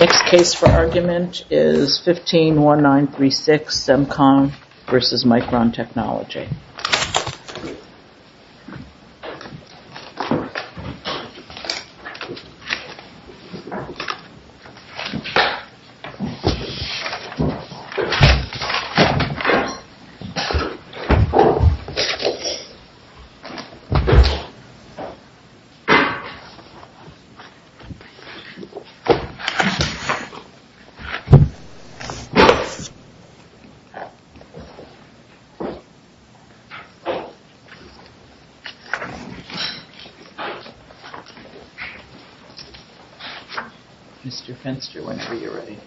Next case for argument is 151936, Semcon v. Micron Technology. Mr. Fenster, whenever you're ready.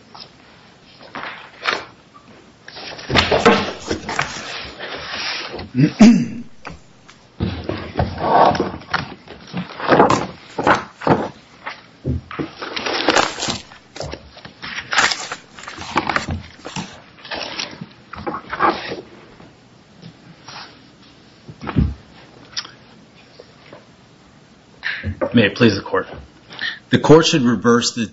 May I please the court? The court should reverse the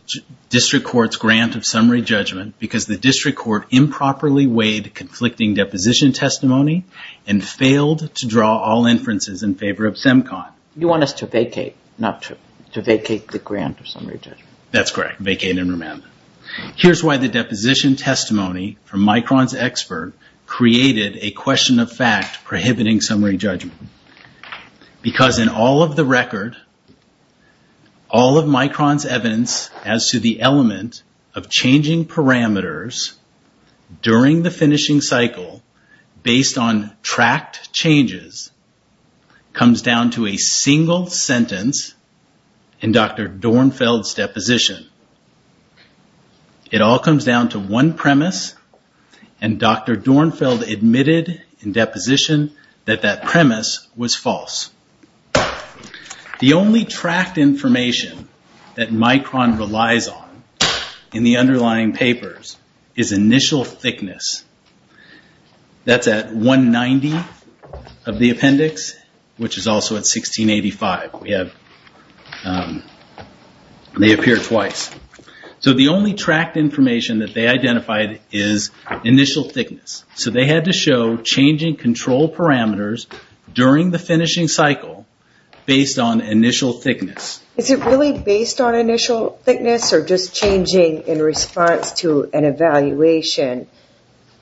district court's grant of summary judgment because the district court improperly weighed conflicting deposition testimony and failed to draw all inferences in favor of Semcon. You want us to vacate, not to vacate the grant of summary judgment. That's correct. Vacate and remand. Here's why the deposition testimony from Micron's expert created a question of fact prohibiting summary judgment. Because in all of the record, all of Micron's evidence as to the element of changing parameters during the finishing cycle based on tracked changes comes down to a single sentence in Dr. Dornfeld's deposition. It all comes down to one premise and Dr. Dornfeld admitted in deposition that that premise was false. The only tracked information that Micron relies on in the underlying papers is initial thickness. That's at 190 of the appendix, which is also at 1685. They appear twice. The only tracked information that they identified is initial thickness. They had to show changing control parameters during the finishing cycle based on initial thickness. Is it really based on initial thickness or just changing in response to an evaluation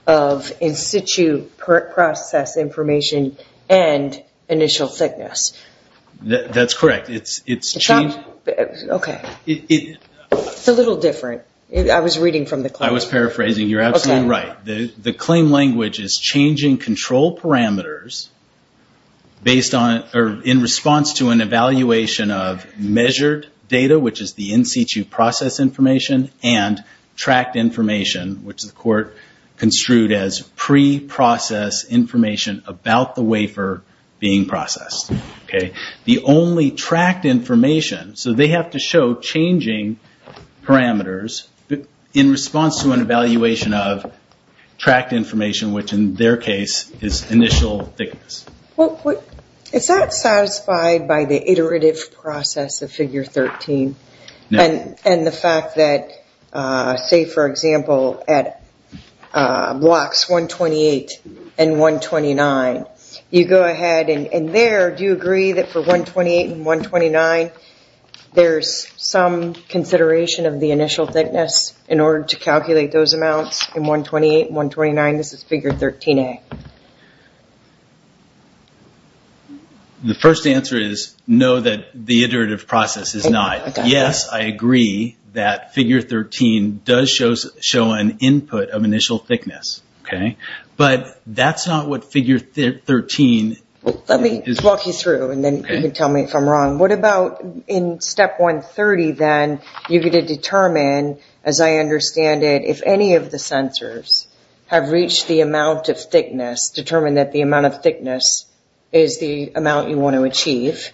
of in situ process information and initial thickness? That's correct. It's a little different. I was reading from the claim. I was paraphrasing. You're absolutely right. The claim language is changing control parameters in response to an evaluation of measured data, which is the in situ process information, and tracked information, which the court construed as pre-process information about the wafer being processed. The only tracked information, so they have to show changing parameters in response to an evaluation of tracked information, which in their case is initial thickness. Is that satisfied by the iterative process of figure 13 and the fact that, say, for example, at blocks 128 and 129, you go ahead and there, do you agree that for 128 and 129, there's some consideration of the initial thickness in order to calculate those amounts in 128 and 129? This is figure 13A. The first answer is no, that the iterative process is not. Yes, I agree that figure 13 does show an input of initial thickness, but that's not what figure 13 is. Let me walk you through, and then you can tell me if I'm wrong. What about in step 130, then, you're going to determine, as I understand it, if any of the sensors have reached the amount of thickness, determine that the amount of thickness is the amount you want to achieve,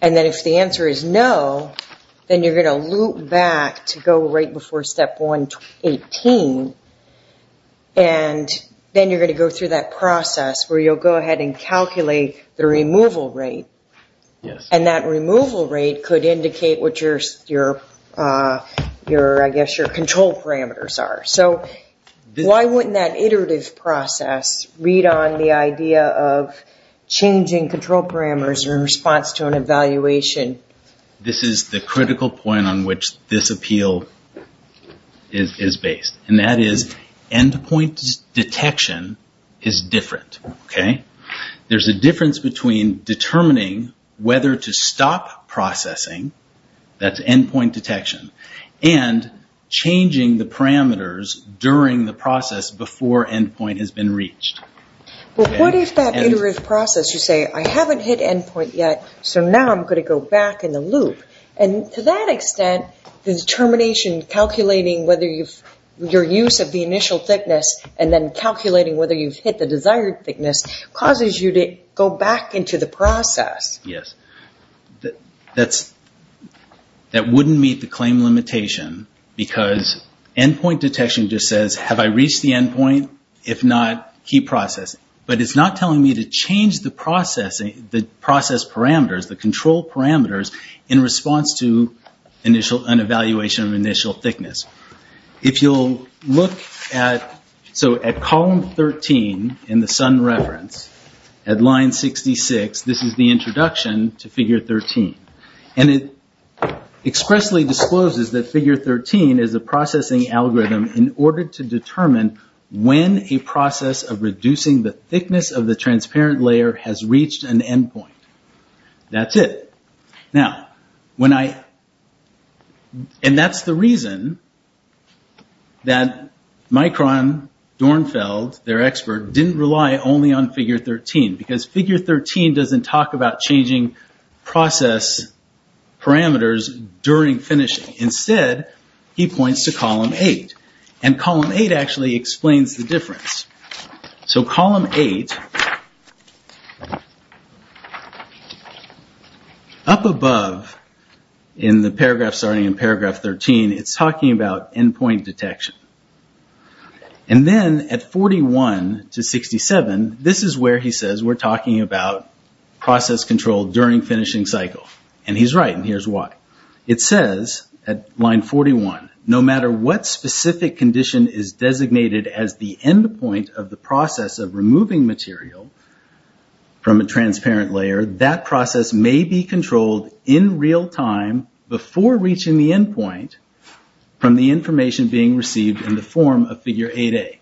and then if the answer is no, then you're going to loop back to go right before step 118, and then you're going to go through that process where you'll go ahead and calculate the removal rate, and that removal rate could indicate what your control parameters are. So why wouldn't that iterative process read on the idea of changing control parameters in response to an evaluation? This is the critical point on which this appeal is based, and that is endpoint detection is different. There's a difference between determining whether to stop processing, that's endpoint detection, and changing the parameters during the process before endpoint has been reached. But what if that iterative process, you say, I haven't hit endpoint yet, so now I'm going to go back in the loop, and to that extent, the determination calculating whether your use of the initial thickness and then calculating whether you've hit the desired thickness causes you to go back into the process. Yes. That wouldn't meet the claim limitation because endpoint detection just says, have I reached the endpoint? If not, keep processing. But it's not telling me to change the process parameters, the control parameters, in response to an evaluation of initial thickness. If you'll look at column 13 in the sun reference, at line 66, this is the introduction to figure 13. It expressly discloses that figure 13 is a processing algorithm in order to determine when a process of reducing the thickness of the transparent layer has reached an endpoint. That's it. And that's the reason that Micron, Dornfeld, their expert, didn't rely only on figure 13, because figure 13 doesn't talk about changing process parameters during finishing. Instead, he points to column 8. And column 8 actually explains the difference. So column 8, up above in the paragraph starting in paragraph 13, it's talking about endpoint detection. And then at 41 to 67, this is where he says we're talking about process control during finishing cycle. And he's right, and here's why. It says at line 41, no matter what specific condition is designated as the endpoint of the process of removing material from a transparent layer, that process may be controlled in real time before reaching the endpoint from the information being received in the form of figure 8A.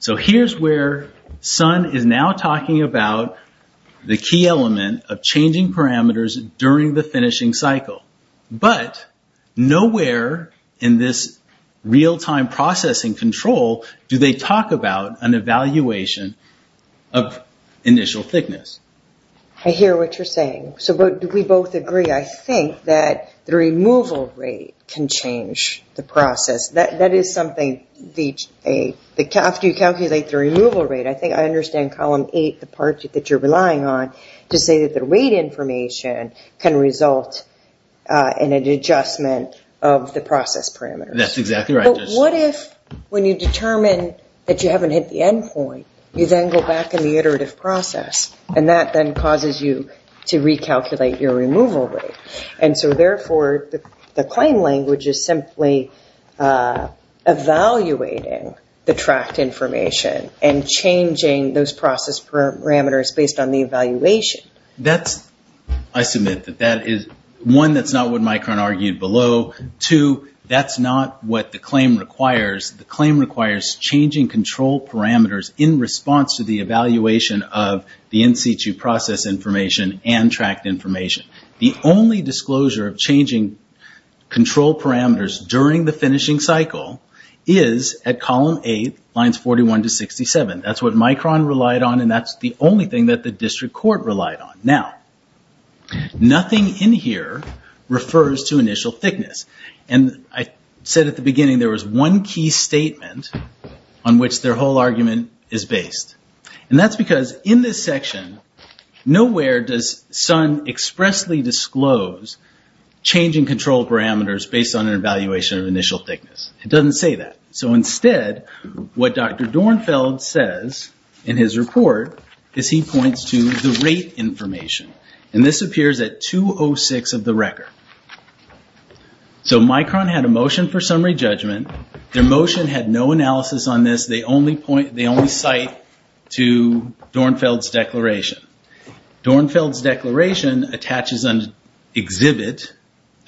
So here's where Sun is now talking about the key element of changing parameters during the finishing cycle. But nowhere in this real-time processing control do they talk about an evaluation of initial thickness. I hear what you're saying. So we both agree, I think, that the removal rate can change the process. After you calculate the removal rate, I think I understand column 8, the part that you're relying on, to say that the rate information can result in an adjustment of the process parameters. That's exactly right. But what if when you determine that you haven't hit the endpoint, you then go back in the iterative process, and that then causes you to recalculate your removal rate? And so therefore, the claim language is simply evaluating the tracked information and changing those process parameters based on the evaluation. I submit that that is, one, that's not what Mike Cron argued below. Two, that's not what the claim requires. The claim requires changing control parameters in response to the evaluation of the in-situ process information and tracked information. The only disclosure of changing control parameters during the finishing cycle is at column 8, lines 41 to 67. That's what Mike Cron relied on, and that's the only thing that the district court relied on. Now, nothing in here refers to initial thickness. And I said at the beginning there was one key statement on which their whole argument is based. And that's because in this section, nowhere does Sun expressly disclose changing control parameters based on an evaluation of initial thickness. It doesn't say that. So instead, what Dr. Dornfeld says in his report is he points to the rate information. And this appears at 206 of the record. So Mike Cron had a motion for summary judgment. Their motion had no analysis on this. They only cite to Dornfeld's declaration. Dornfeld's declaration attaches an exhibit,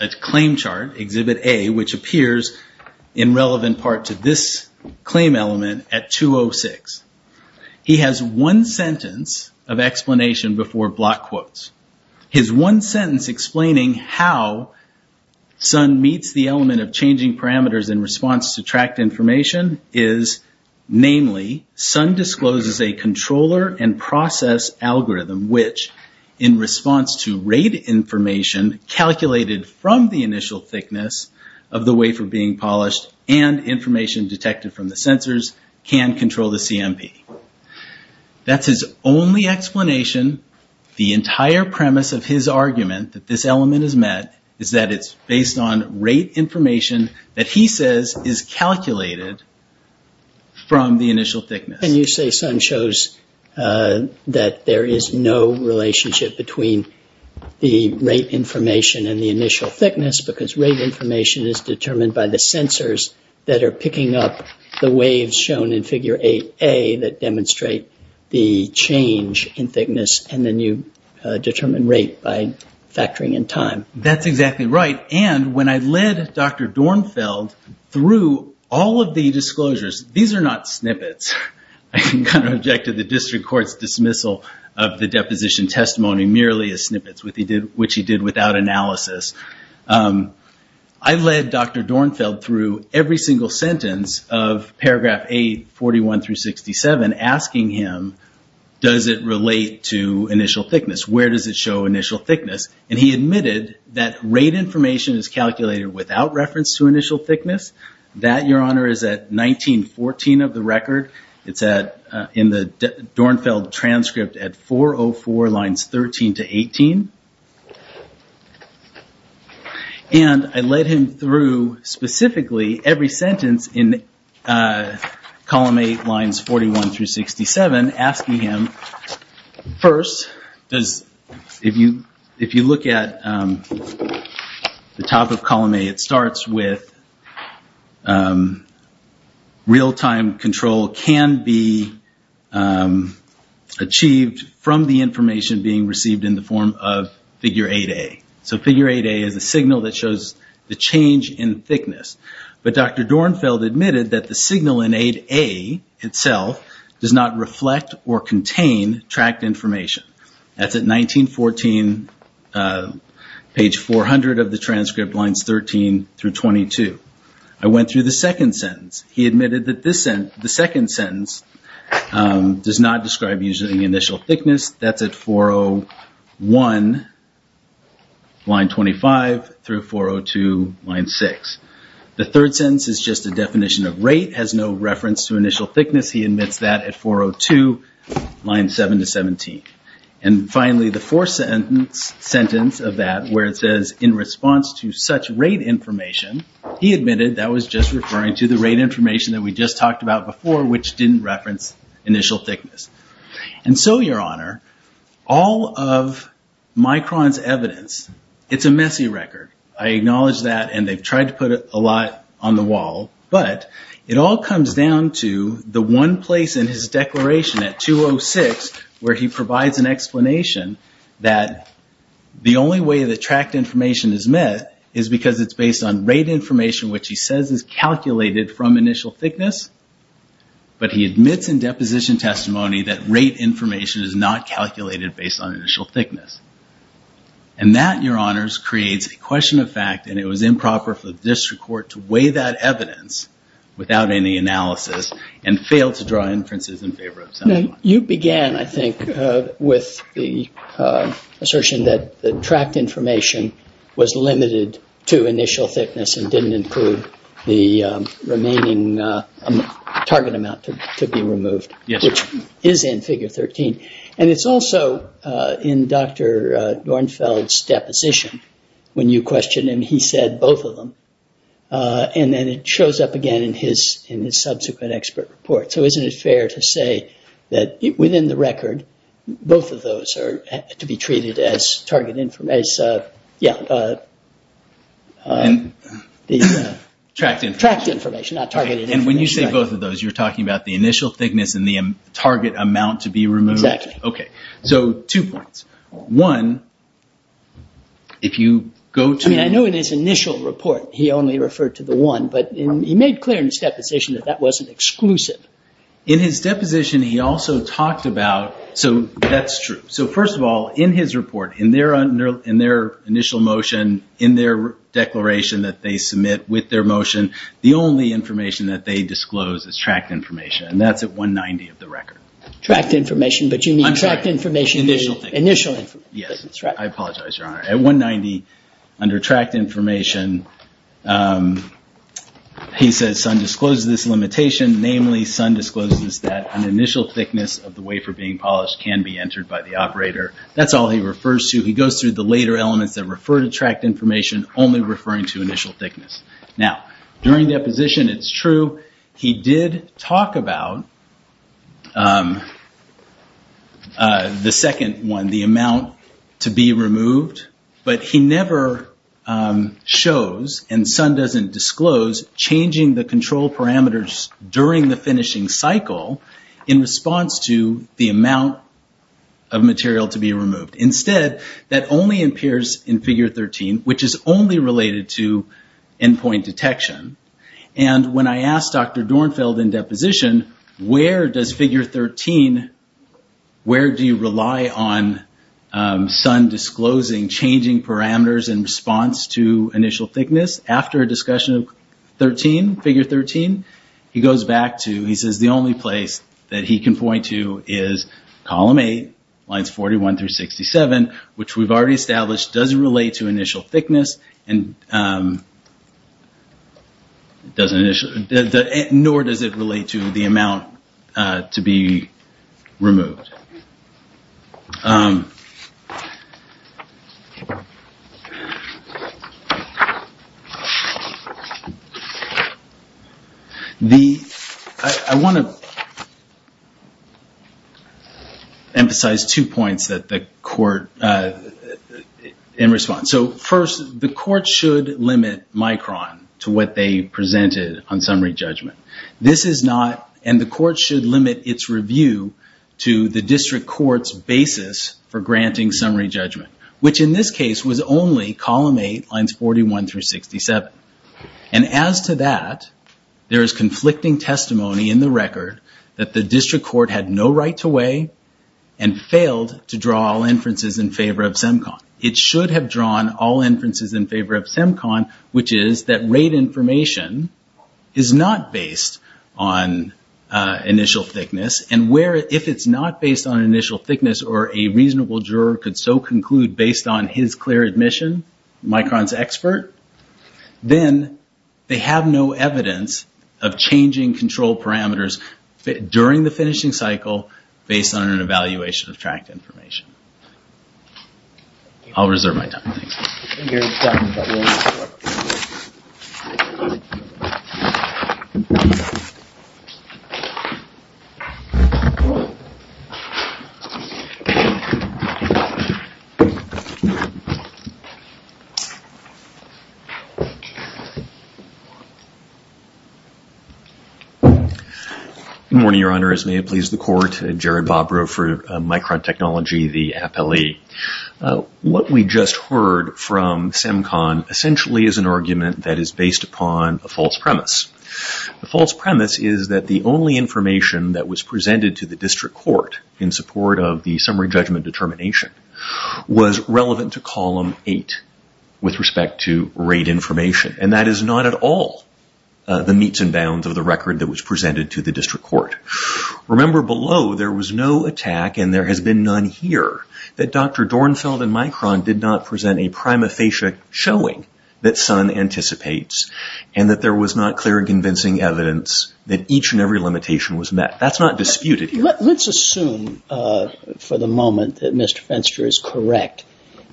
a claim chart, exhibit A, which appears in relevant part to this claim element at 206. He has one sentence of explanation before block quotes. His one sentence explaining how Sun meets the element of changing parameters in response to tracked information is, namely, Sun discloses a controller and process algorithm which, in response to rate information calculated from the initial thickness of the wafer being polished and information detected from the sensors, can control the CMP. That's his only explanation. The entire premise of his argument that this element is met is that it's based on rate information that he says is calculated from the initial thickness. And you say Sun shows that there is no relationship between the rate information and the initial thickness because rate information is determined by the sensors that are picking up the waves shown in figure 8A that demonstrate the change in thickness, and then you determine rate by factoring in time. That's exactly right. And when I led Dr. Dornfeld through all of the disclosures, these are not snippets. I object to the district court's dismissal of the deposition testimony merely as snippets, which he did without analysis. I led Dr. Dornfeld through every single sentence of paragraph 8, 41 through 67, asking him, does it relate to initial thickness? Where does it show initial thickness? And he admitted that rate information is calculated without reference to initial thickness. That, Your Honor, is at 1914 of the record. It's in the Dornfeld transcript at 404 lines 13 to 18. And I led him through specifically every sentence in column 8, lines 41 through 67, asking him, first, if you look at the top of column 8, it starts with real-time control can be achieved from the information being received in the form of figure 8A. So figure 8A is a signal that shows the change in thickness. But Dr. Dornfeld admitted that the signal in 8A itself does not reflect or contain tracked information. That's at 1914, page 400 of the transcript, lines 13 through 22. I went through the second sentence. He admitted that the second sentence does not describe usually initial thickness. That's at 401, line 25, through 402, line 6. The third sentence is just a definition of rate, has no reference to initial thickness. He admits that at 402, line 7 to 17. And finally, the fourth sentence of that, where it says, in response to such rate information, he admitted that was just referring to the rate information that we just talked about before, which didn't reference initial thickness. And so, Your Honor, all of Micron's evidence, it's a messy record. I acknowledge that, and they've tried to put a lot on the wall. But it all comes down to the one place in his declaration at 206 where he provides an explanation that the only way the tracked information is met is because it's based on rate information, which he says is calculated from initial thickness. But he admits in deposition testimony that rate information is not calculated based on initial thickness. And that, Your Honors, creates a question of fact, and it was improper for the district court to weigh that evidence without any analysis and fail to draw inferences in favor of someone. You began, I think, with the assertion that the tracked information was limited to initial thickness and didn't include the remaining target amount to be removed, which is in Figure 13. And it's also in Dr. Dornfeld's deposition, when you question him, he said both of them. And then it shows up again in his subsequent expert report. So isn't it fair to say that within the record, both of those are to be treated as, yeah. Tracked information, not targeted information. And when you say both of those, you're talking about the initial thickness and the target amount to be removed? Exactly. Okay, so two points. One, if you go to... I mean, I know in his initial report he only referred to the one, but he made clear in his deposition that that wasn't exclusive. In his deposition, he also talked about... So that's true. So first of all, in his report, in their initial motion, in their declaration that they submit with their motion, the only information that they disclose is tracked information, and that's at 190 of the record. Tracked information, but you mean tracked information... Initial thickness. Initial thickness, right. Yes, I apologize, Your Honor. At 190, under tracked information, he says Sun discloses this limitation, namely Sun discloses that an initial thickness of the wafer being polished can be entered by the operator. That's all he refers to. He goes through the later elements that refer to tracked information, only referring to initial thickness. Now, during deposition, it's true. He did talk about the second one, the amount to be removed, but he never shows, and Sun doesn't disclose, changing the control parameters during the finishing cycle in response to the amount of material to be removed. Instead, that only appears in Figure 13, which is only related to endpoint detection. When I asked Dr. Dornfeld in deposition, where does Figure 13, where do you rely on Sun disclosing changing parameters in response to initial thickness? After a discussion of Figure 13, he goes back to... He says the only place that he can point to is Column 8, Lines 41 through 67, which we've already established doesn't relate to initial thickness, nor does it relate to the amount to be removed. I want to emphasize two points in response. First, the court should limit Micron to what they presented on summary judgment. The court should limit its review to the district court's basis for granting summary judgment, which in this case was only Column 8, Lines 41 through 67. As to that, there is conflicting testimony in the record that the district court had no right to weigh and failed to draw all inferences in favor of SEMCON. It should have drawn all inferences in favor of SEMCON, which is that rate information is not based on initial thickness, and if it's not based on initial thickness, or a reasonable juror could so conclude based on his clear admission, Micron's expert, then they have no evidence of changing control parameters during the finishing cycle based on an evaluation of tracked information. I'll reserve my time. Thank you. Good morning, Your Honor. As may it please the court, Jared Bobrow for Micron Technology, the appellee. What we just heard from SEMCON essentially is an argument that is based upon a false premise. The false premise is that the only information that was presented to the district court in support of the summary judgment determination was relevant to Column 8 with respect to rate information, and that is not at all the meets and bounds of the record that was presented to the district court. Remember below, there was no attack, and there has been none here, that Dr. Dornfeld and Micron did not present a prima facie showing that Sun anticipates, and that there was not clear and convincing evidence that each and every limitation was met. That's not disputed here. Let's assume for the moment that Mr. Fenster is correct,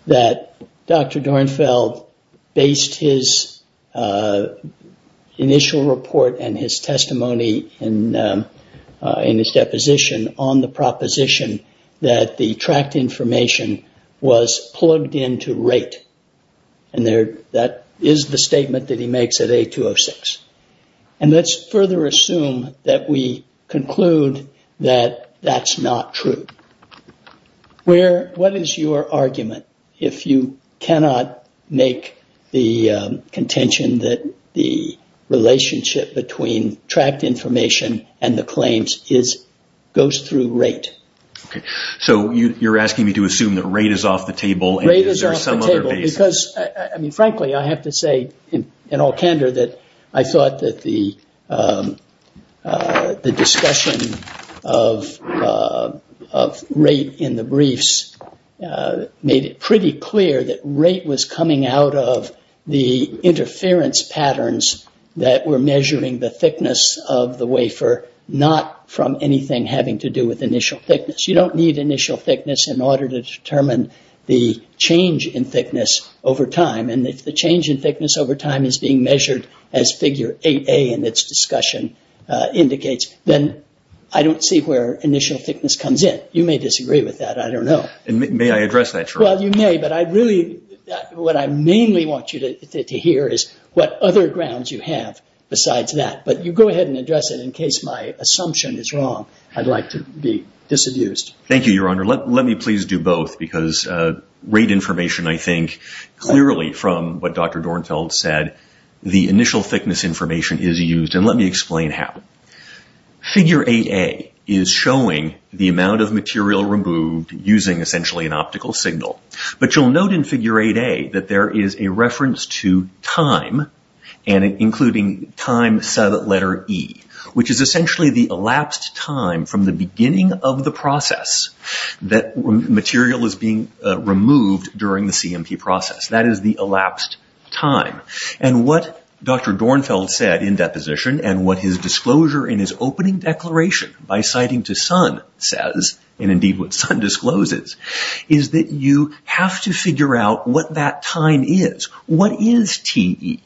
that Dr. Dornfeld based his initial report and his testimony in his deposition on the proposition that the tracked information was plugged into rate. That is the statement that he makes at A-206. Let's further assume that we conclude that that's not true. What is your argument if you cannot make the contention that the relationship between tracked information and the claims goes through rate? You're asking me to assume that rate is off the table? Rate is off the table, because frankly I have to say in all candor that I thought that the discussion of rate in the briefs made it pretty clear that rate was coming out of the interference patterns that were measuring the thickness of the wafer, not from anything having to do with initial thickness. You don't need initial thickness in order to determine the change in thickness over time. If the change in thickness over time is being measured as Figure 8A in its discussion indicates, then I don't see where initial thickness comes in. You may disagree with that. I don't know. May I address that? You may, but what I mainly want you to hear is what other grounds you have besides that. You go ahead and address it in case my assumption is wrong. I'd like to be disabused. Thank you, Your Honor. Let me please do both, because rate information, I think, clearly from what Dr. Dornfeld said, the initial thickness information is used, and let me explain how. Figure 8A is showing the amount of material removed using essentially an optical signal, but you'll note in Figure 8A that there is a reference to time, including time sub-letter E, which is essentially the elapsed time from the beginning of the process that material is being removed during the CMP process. That is the elapsed time, and what Dr. Dornfeld said in deposition and what his disclosure in his opening declaration by citing to Sun says, and indeed what Sun discloses, is that you have to figure out what that time is. What is Te?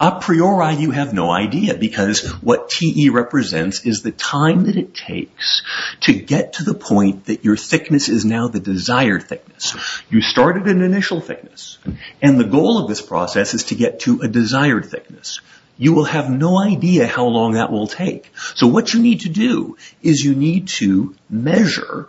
A priori, you have no idea, because what Te represents is the time that it takes to get to the point that your thickness is now the desired thickness. You started at an initial thickness, and the goal of this process is to get to a desired thickness. You will have no idea how long that will take. So what you need to do is you need to measure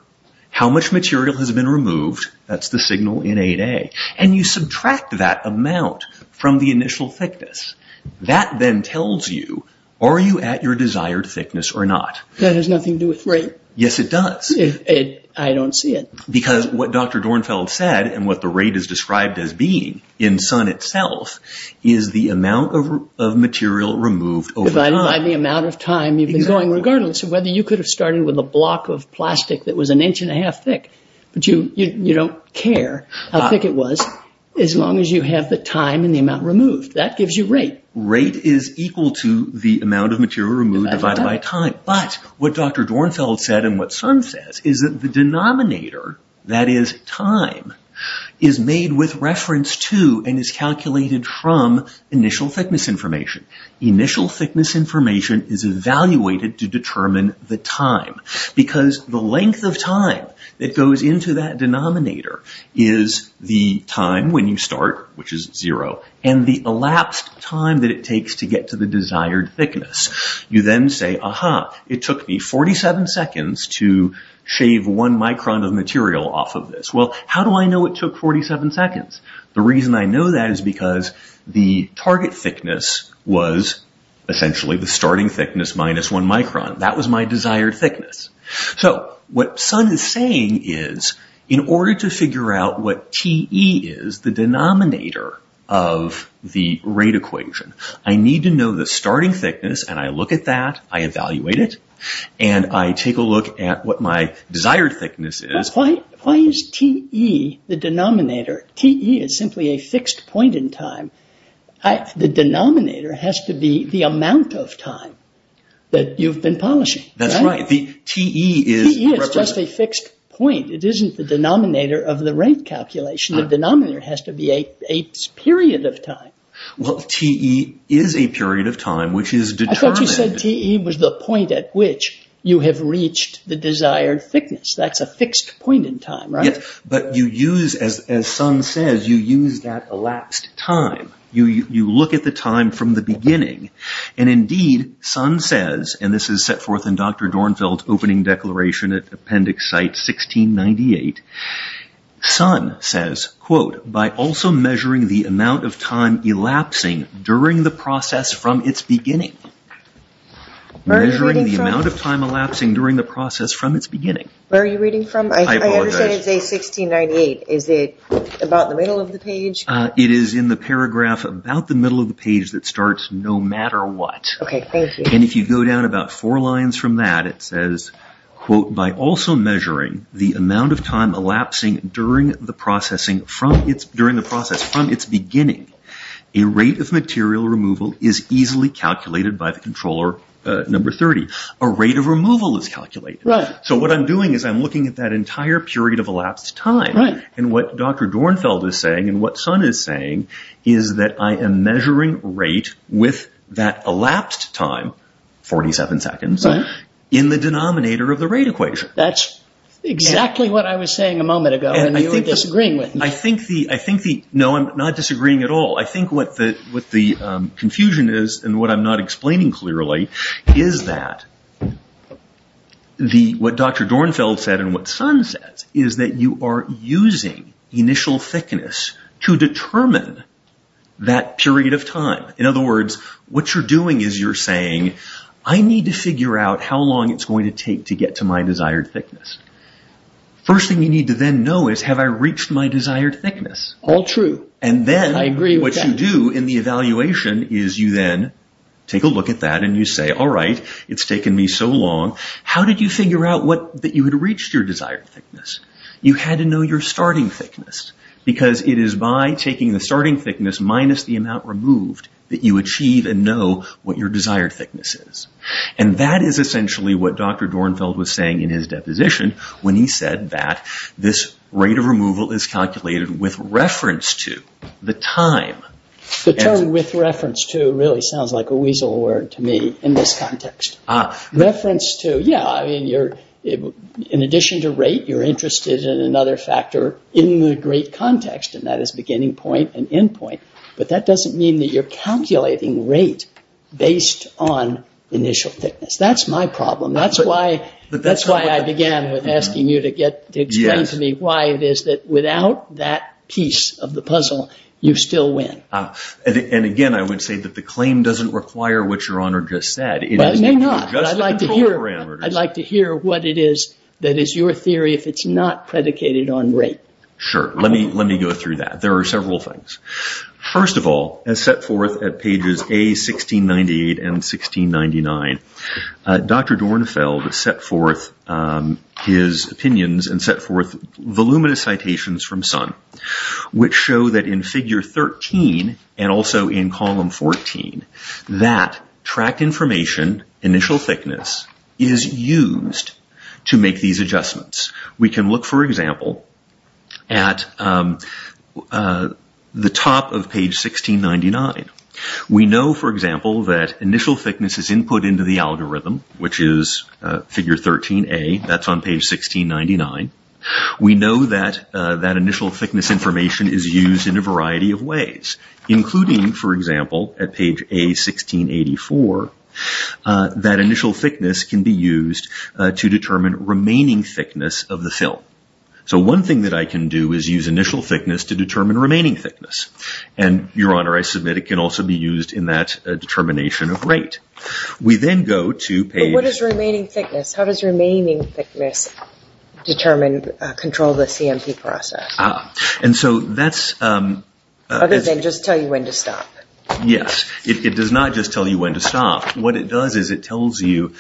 how much material has been removed, that's the signal in 8A, and you subtract that amount from the initial thickness. That then tells you, are you at your desired thickness or not? That has nothing to do with rate. Yes, it does. I don't see it. Because what Dr. Dornfeld said, and what the rate is described as being in Sun itself, is the amount of material removed over time. Divided by the amount of time you've been going, regardless of whether you could have started with a block of plastic that was an inch and a half thick. You don't care how thick it was, as long as you have the time and the amount removed. That gives you rate. Rate is equal to the amount of material removed divided by time. But what Dr. Dornfeld said, and what Sun says, is that the denominator, that is time, is made with reference to and is calculated from initial thickness information. Initial thickness information is evaluated to determine the time. Because the length of time that goes into that denominator is the time when you start, which is zero, and the elapsed time that it takes to get to the desired thickness. You then say, aha, it took me 47 seconds to shave one micron of material off of this. Well, how do I know it took 47 seconds? The reason I know that is because the target thickness was essentially the starting thickness minus one micron. That was my desired thickness. So, what Sun is saying is, in order to figure out what Te is, the denominator of the rate equation, I need to know the starting thickness, and I look at that, I evaluate it, and I take a look at what my desired thickness is. Why is Te, the denominator, Te is simply a fixed point in time. The denominator has to be the amount of time that you've been polishing. That's right. Te is... Te is just a fixed point. It isn't the denominator of the rate calculation. The denominator has to be a period of time. Well, Te is a period of time which is determined... I thought you said Te was the point at which you have reached the desired thickness. That's a fixed point in time, right? Yes, but you use, as Sun says, you use that elapsed time. You look at the time from the beginning, and indeed, Sun says, and this is set forth in Dr. Dornfeld's opening declaration at Appendix Site 1698, Sun says, quote, By also measuring the amount of time elapsing during the process from its beginning. Measuring the amount of time elapsing during the process from its beginning. Where are you reading from? I apologize. I understand it's A1698. Is it about the middle of the page? It is in the paragraph about the middle of the page that starts no matter what. Okay, thank you. And if you go down about four lines from that, it says, quote, By also measuring the amount of time elapsing during the process from its beginning. A rate of material removal is easily calculated by the controller number 30. A rate of removal is calculated. So what I'm doing is I'm looking at that entire period of elapsed time. And what Dr. Dornfeld is saying, and what Sun is saying, is that I am measuring rate with that elapsed time, 47 seconds, in the denominator of the rate equation. That's exactly what I was saying a moment ago. And you were disagreeing with me. No, I'm not disagreeing at all. I think what the confusion is, and what I'm not explaining clearly, is that what Dr. Dornfeld said and what Sun said is that you are using initial thickness to determine that period of time. In other words, what you're doing is you're saying, I need to figure out how long it's going to take to get to my desired thickness. First thing you need to then know is, have I reached my desired thickness? All true. I agree with that. And then what you do in the evaluation is you then take a look at that, and you say, all right, it's taken me so long. How did you figure out that you had reached your desired thickness? You had to know your starting thickness, because it is by taking the starting thickness minus the amount removed that you achieve and know what your desired thickness is. And that is essentially what Dr. Dornfeld was saying in his deposition when he said that this rate of removal is calculated with reference to the time. The term with reference to really sounds like a weasel word to me in this context. Ah. Reference to, yeah, I mean, in addition to rate, you're interested in another factor in the great context, and that is beginning point and end point. But that doesn't mean that you're calculating rate based on initial thickness. That's my problem. That's why I began with asking you to explain to me why it is that without that piece of the puzzle, you still win. And again, I would say that the claim doesn't require what Your Honor just said. Well, it may not, but I'd like to hear what it is that is your theory if it's not predicated on rate. Sure. Let me go through that. There are several things. First of all, as set forth at pages A, 1698, and 1699, Dr. Dornfeld set forth his opinions and set forth voluminous citations from Sun which show that in figure 13 and also in column 14, that tract information, initial thickness, is used to make these adjustments. We can look, for example, at the top of page 1699. We know, for example, that initial thickness is input into the algorithm, which is figure 13A. That's on page 1699. We know that that initial thickness information is used in a variety of ways, including, for example, at page A, 1684, that initial thickness can be used to determine remaining thickness of the film. So one thing that I can do is use initial thickness to determine remaining thickness. And, Your Honor, I submit it can also be used in that determination of rate. But what is remaining thickness? How does remaining thickness control the CMP process? Other than just tell you when to stop. Yes, it does not just tell you when to stop. What it does is it tells you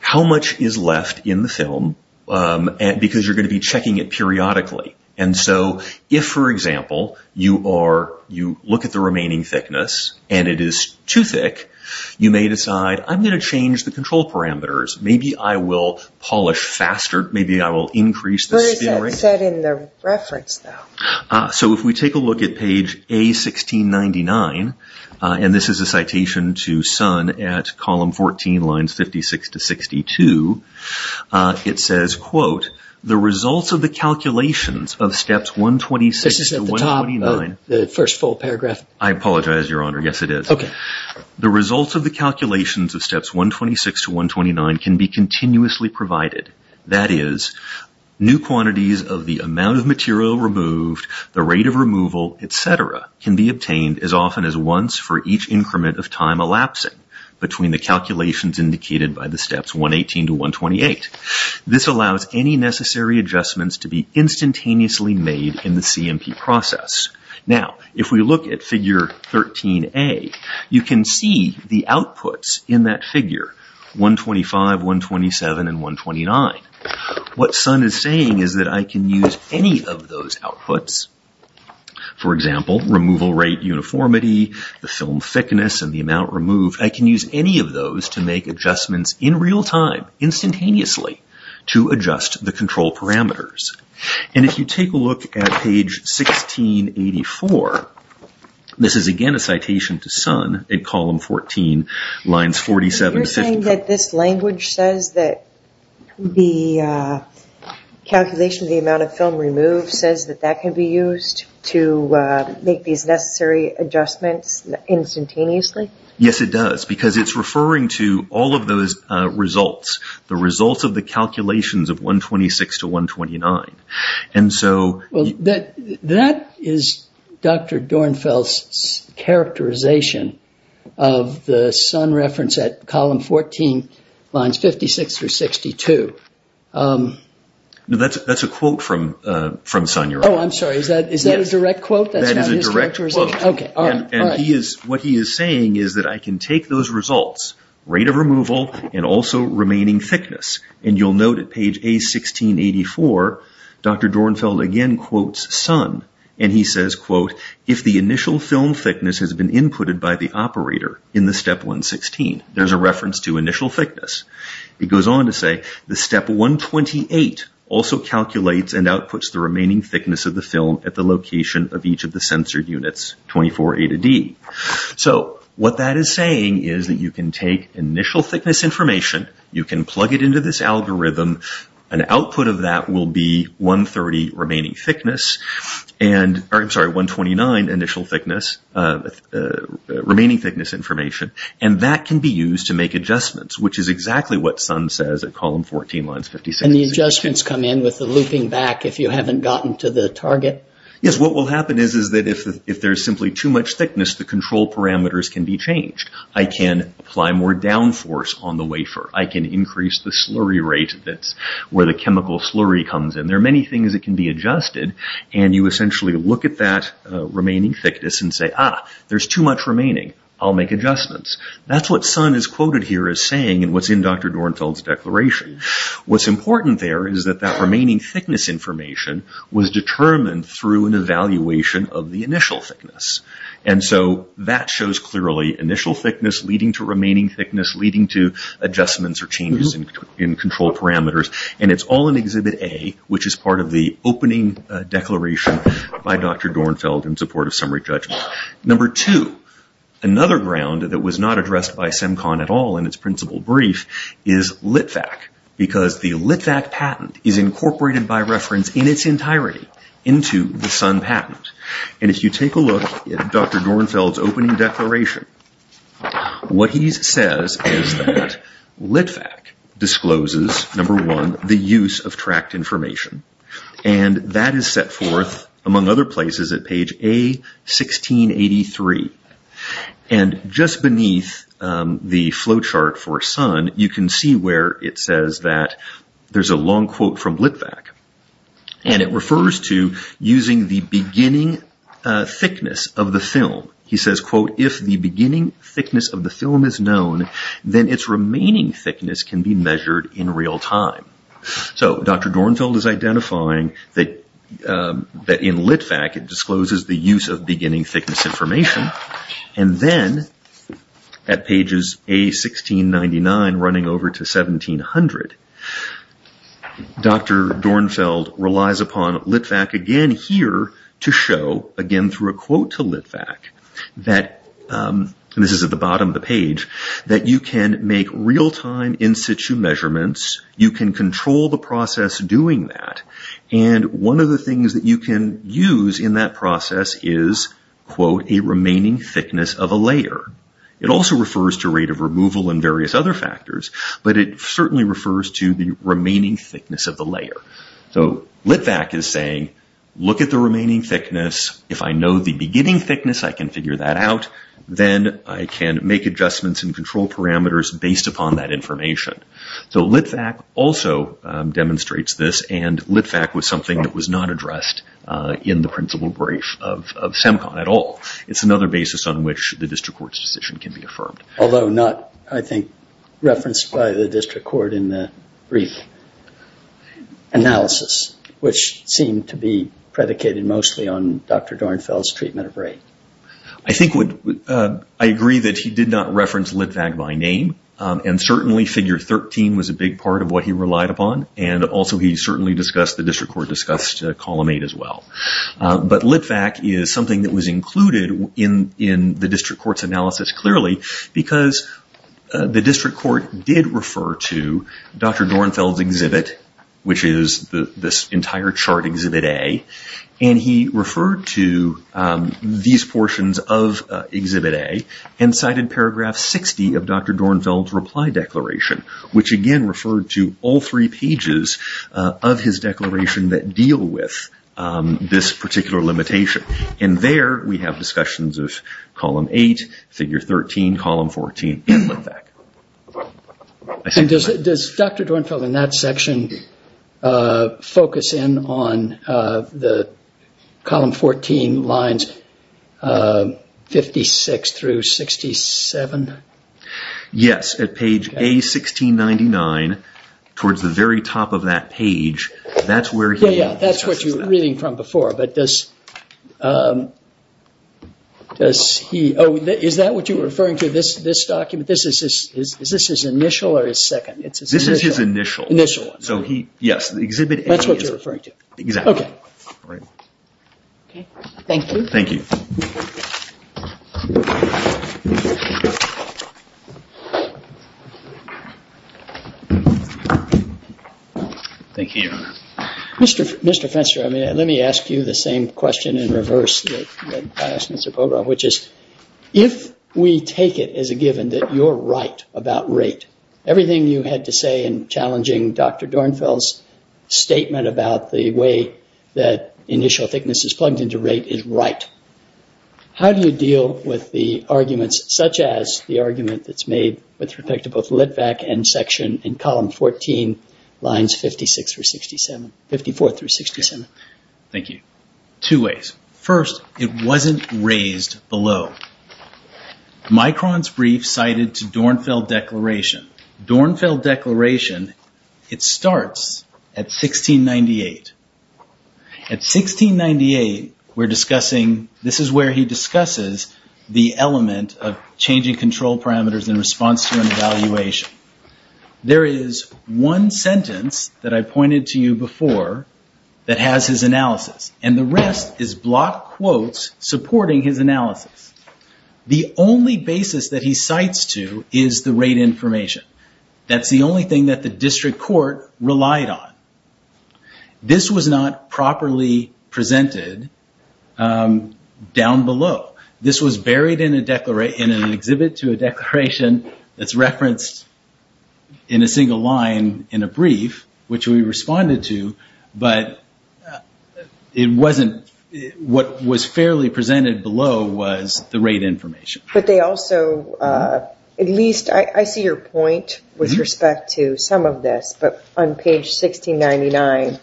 how much is left in the film because you're going to be checking it periodically. And so if, for example, you look at the remaining thickness and it is too thick, you may decide, I'm going to change the control parameters. Maybe I will polish faster. Maybe I will increase the spin rate. Where is that set in the reference, though? So if we take a look at page A, 1699, and this is a citation to Sun at column 14, lines 56 to 62, it says, quote, the results of the calculations of steps 126 to 129. This is at the top of the first full paragraph. I apologize, Your Honor. Yes, it is. The results of the calculations of steps 126 to 129 can be continuously provided. That is, new quantities of the amount of material removed, the rate of removal, et cetera, can be obtained as often as once for each increment of time elapsing between the calculations indicated by the steps 118 to 128. This allows any necessary adjustments to be instantaneously made in the CMP process. Now, if we look at figure 13A, you can see the outputs in that figure, 125, 127, and 129. What Sun is saying is that I can use any of those outputs. For example, removal rate uniformity, the film thickness, and the amount removed. I can use any of those to make adjustments in real time, instantaneously, to adjust the control parameters. And if you take a look at page 1684, this is again a citation to Sun at column 14, You're saying that this language says that the calculation of the amount of film removed says that that can be used to make these necessary adjustments instantaneously? Yes, it does, because it's referring to all of those results, the results of the calculations of 126 to 129. That is Dr. Dornfeld's characterization of the Sun reference at column 14, lines 56 through 62. That's a quote from Sun, you're right. Oh, I'm sorry, is that a direct quote? That is a direct quote. What he is saying is that I can take those results, rate of removal, and also remaining thickness. And you'll note at page A1684, Dr. Dornfeld again quotes Sun, and he says, quote, There's a reference to initial thickness. He goes on to say, So, what that is saying is that you can take initial thickness information, you can plug it into this algorithm, an output of that will be 130 remaining thickness, and, I'm sorry, 129 initial thickness, remaining thickness information, and that can be used to make adjustments, which is exactly what Sun says at column 14, lines 56 through 62. And the adjustments come in with the looping back, if you haven't gotten to the target? Yes, what will happen is that if there's simply too much thickness, the control parameters can be changed. I can apply more downforce on the wafer. I can increase the slurry rate, that's where the chemical slurry comes in. There are many things that can be adjusted, and you essentially look at that remaining thickness and say, ah, there's too much remaining, I'll make adjustments. That's what Sun is quoted here as saying, and what's in Dr. Dornfeld's declaration. What's important there is that that remaining thickness information was determined through an evaluation of the initial thickness. And so that shows clearly initial thickness leading to remaining thickness, leading to adjustments or changes in control parameters, and it's all in Exhibit A, which is part of the opening declaration by Dr. Dornfeld in support of summary judgment. Number two, another ground that was not addressed by CEMCON at all in its principal brief is LitVac, because the LitVac patent is incorporated by reference in its entirety into the Sun patent. And if you take a look at Dr. Dornfeld's opening declaration, what he says is that LitVac discloses, number one, the use of tracked information. And that is set forth, among other places, at page A1683. And just beneath the flowchart for Sun, you can see where it says that there's a long quote from LitVac, and it refers to using the beginning thickness of the film. He says, quote, if the beginning thickness of the film is known, then its remaining thickness can be measured in real time. So Dr. Dornfeld is identifying that in LitVac it discloses the use of beginning thickness information. And then at pages A1699 running over to 1700, Dr. Dornfeld relies upon LitVac again here to show, again through a quote to LitVac, and this is at the bottom of the page, that you can make real-time in-situ measurements, you can control the process doing that, and one of the things that you can use in that process is, quote, a remaining thickness of a layer. It also refers to rate of removal and various other factors, but it certainly refers to the remaining thickness of the layer. So LitVac is saying, look at the remaining thickness. If I know the beginning thickness, I can figure that out. Then I can make adjustments and control parameters based upon that information. So LitVac also demonstrates this, and LitVac was something that was not addressed in the principal brief of CEMCON at all. It's another basis on which the district court's decision can be affirmed. Although not, I think, referenced by the district court in the brief analysis, which seemed to be predicated mostly on Dr. Dornfeld's treatment of rate. I agree that he did not reference LitVac by name, and certainly figure 13 was a big part of what he relied upon, and also he certainly discussed, the district court discussed column 8 as well. But LitVac is something that was included in the district court's analysis clearly, because the district court did refer to Dr. Dornfeld's exhibit, which is this entire chart exhibit A, and he referred to these portions of exhibit A, and cited paragraph 60 of Dr. Dornfeld's reply declaration, which again referred to all three pages of his declaration that deal with this particular limitation. And there we have discussions of column 8, figure 13, column 14 in LitVac. Does Dr. Dornfeld, in that section, focus in on the column 14 lines 56 through 67? Yes, at page A1699, towards the very top of that page, that's where he discusses that. That's what you were reading from before, but does he... Oh, is that what you were referring to, this document? Is this his initial or his second? This is his initial. Initial. Yes, the exhibit A is... That's what you're referring to. Okay. Thank you. Thank you. Thank you, Your Honor. Mr. Fenster, let me ask you the same question in reverse which is, if we take it as a given that you're right about rate, everything you had to say in challenging Dr. Dornfeld's statement about the way that initial thickness is plugged into rate is right, how do you deal with the arguments, such as the argument that's made with respect to both LitVac and section and column 14 lines 56 through 67, 54 through 67? Thank you. Two ways. First, it wasn't raised below. Micron's brief cited to Dornfeld Declaration. Dornfeld Declaration, it starts at 1698. At 1698, we're discussing... This is where he discusses the element of changing control parameters in response to an evaluation. There is one sentence that I pointed to you before that has his analysis, and the rest is block quotes supporting his analysis. The only basis that he cites to is the rate information. That's the only thing that the district court relied on. This was not properly presented down below. This was buried in an exhibit to a declaration that's referenced in a single line in a brief, which we responded to, but what was fairly presented below was the rate information. I see your point with respect to some of this, but on page 1699,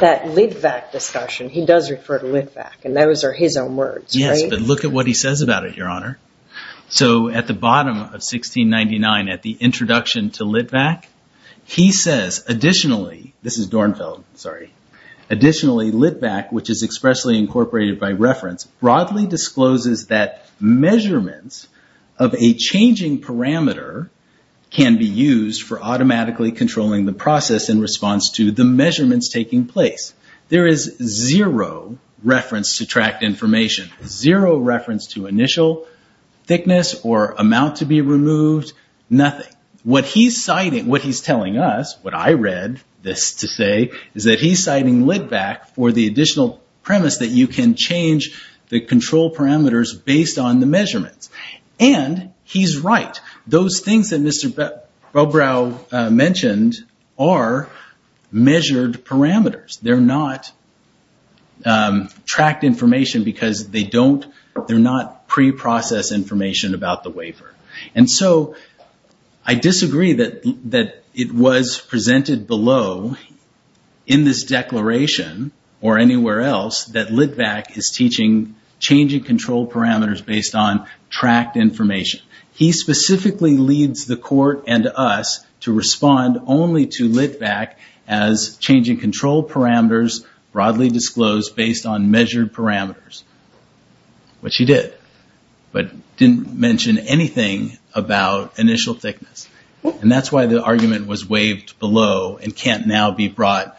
that LitVac discussion, he does refer to LitVac, and those are his own words, right? Yes, but look at what he says about it, Your Honor. At the bottom of 1699, at the introduction to LitVac, he says, This is Dornfeld, sorry. Additionally, LitVac, which is expressly incorporated by reference, broadly discloses that measurements of a changing parameter can be used for automatically controlling the process in response to the measurements taking place. There is zero reference to tracked information, zero reference to initial thickness or amount to be removed, nothing. What he's telling us, what I read this to say, is that he's citing LitVac for the additional premise that you can change the control parameters based on the measurements, and he's right. Those things that Mr. Bobrow mentioned are measured parameters. They're not tracked information because they're not pre-processed information about the wafer. And so I disagree that it was presented below in this declaration or anywhere else that LitVac is teaching changing control parameters based on tracked information. He specifically leads the court and us to respond only to LitVac as changing control parameters broadly disclosed based on measured parameters, which he did, but didn't mention anything about initial thickness. And that's why the argument was waived below and can't now be brought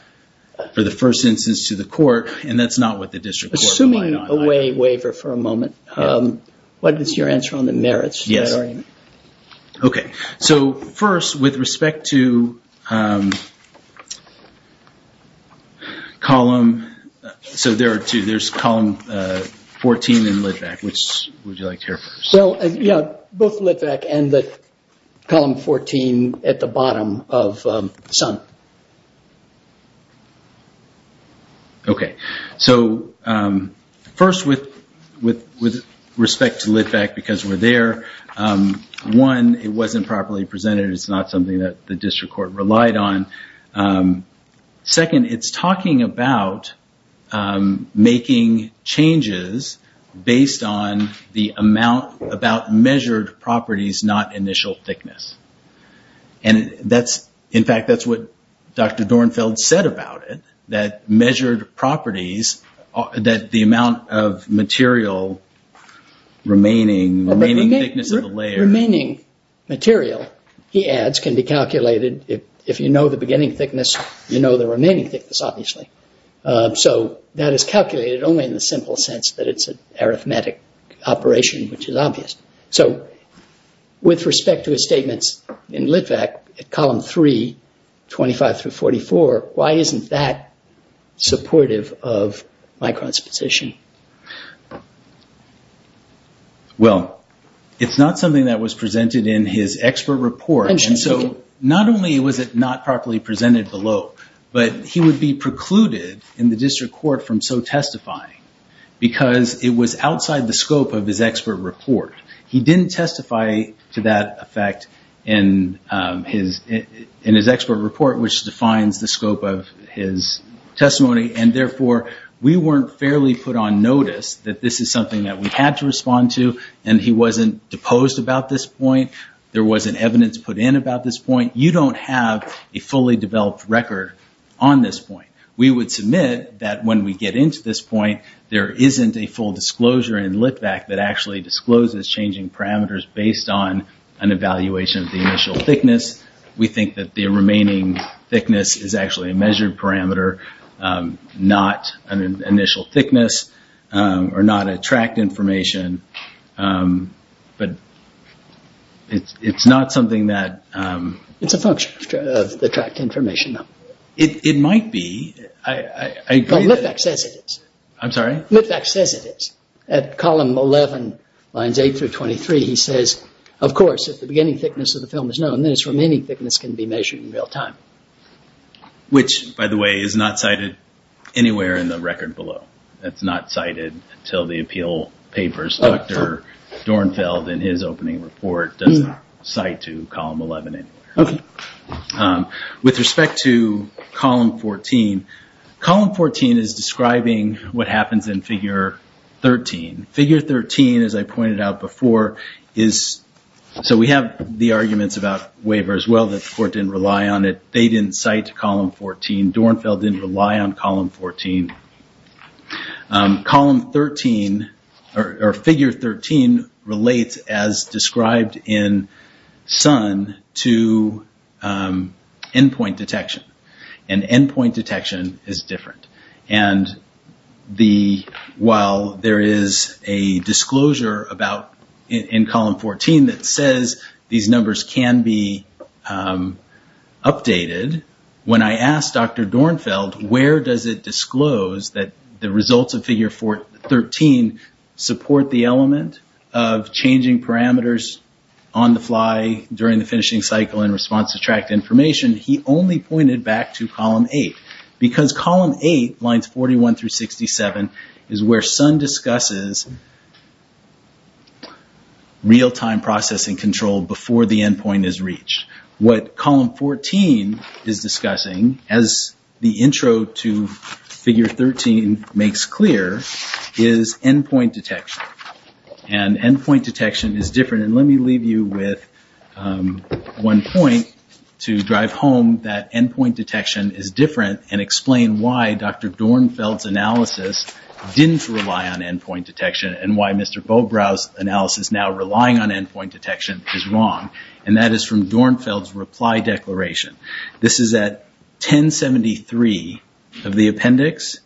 for the first instance to the court, and that's not what the district court relied on. Assuming away wafer for a moment, what is your answer on the merits? First, with respect to column 14 in LitVac, which would you like to hear first? Both LitVac and column 14 at the bottom of Sun. Okay. So first, with respect to LitVac, because we're there, one, it wasn't properly presented. It's not something that the district court relied on. Second, it's talking about making changes based on the amount about measured properties, not initial thickness. And that's, in fact, that's what Dr. Dornfeld said about it, that measured properties, that the amount of material remaining, remaining thickness of the layer. Remaining material, he adds, can be calculated. If you know the beginning thickness, you know the remaining thickness, obviously. So that is calculated only in the simple sense that it's an arithmetic operation, which is obvious. So with respect to his statements in LitVac, column 3, 25 through 44, why isn't that supportive of Micron's position? Well, it's not something that was presented in his expert report. And so not only was it not properly presented below, but he would be precluded in the district court from so testifying because it was outside the scope of his expert report. He didn't testify to that effect in his expert report, which defines the scope of his testimony, and therefore we weren't fairly put on notice that this is something that we had to respond to, and he wasn't deposed about this point. There wasn't evidence put in about this point. You don't have a fully developed record on this point. We would submit that when we get into this point, there isn't a full disclosure in LitVac that actually discloses changing parameters based on an evaluation of the initial thickness. We think that the remaining thickness is actually a measured parameter, not an initial thickness or not a tracked information. But it's not something that... It's a function of the tracked information, though. It might be. But LitVac says it is. I'm sorry? LitVac says it is. At column 11, lines 8 through 23, he says, of course, if the beginning thickness of the film is known, then its remaining thickness can be measured in real time. Which, by the way, is not cited anywhere in the record below. That's not cited until the appeal papers. Dr. Dornfeld, in his opening report, does not cite to column 11 anywhere. With respect to column 14, column 14 is describing what happens in figure 13. Figure 13, as I pointed out before, is... So we have the arguments about waiver as well, that the court didn't rely on it. They didn't cite to column 14. Dornfeld didn't rely on column 14. Column 13, or figure 13, relates, as described in Sun, to endpoint detection. And endpoint detection is different. And while there is a disclosure in column 14 that says these numbers can be updated, when I asked Dr. Dornfeld, where does it disclose that the results of figure 13 support the element of changing parameters on the fly during the finishing cycle in response to tracked information, he only pointed back to column 8. Because column 8, lines 41 through 67, is where Sun discusses real-time processing control before the endpoint is reached. What column 14 is discussing, as the intro to figure 13 makes clear, is endpoint detection. And endpoint detection is different. And let me leave you with one point to drive home that endpoint detection is different and explain why Dr. Dornfeld's analysis didn't rely on endpoint detection and why Mr. Bobrow's analysis now relying on endpoint detection is wrong. And that is from Dornfeld's reply declaration. This is at 1073 of the appendix.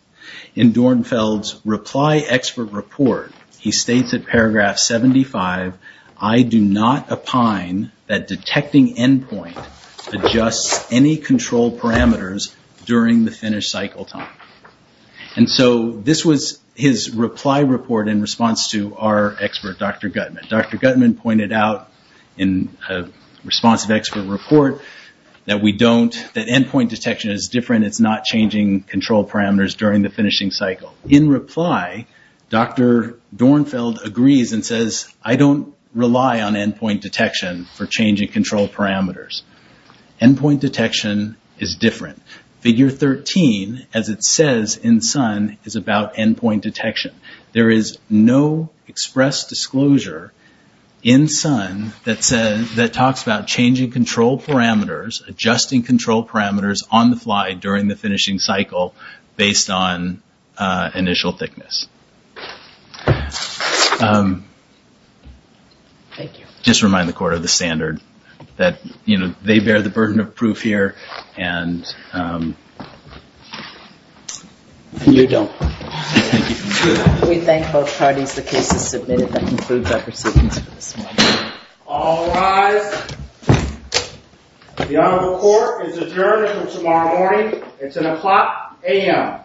In Dornfeld's reply expert report, he states at paragraph 75, I do not opine that detecting endpoint adjusts any control parameters during the finish cycle time. And so this was his reply report in response to our expert, Dr. Gutman. Dr. Gutman pointed out in response to expert report that endpoint detection is different. It's not changing control parameters during the finishing cycle. In reply, Dr. Dornfeld agrees and says, I don't rely on endpoint detection for changing control parameters. Endpoint detection is different. Figure 13, as it says in Sun, is about endpoint detection. There is no express disclosure in Sun that talks about changing control parameters, adjusting control parameters on the fly during the finishing cycle based on initial thickness. Just remind the court of the standard that they bear the burden of proof here. And you don't. We thank both parties. The case is submitted. That concludes our proceedings for this morning. All rise. The Honorable Court is adjourned until tomorrow morning. It's an o'clock a.m.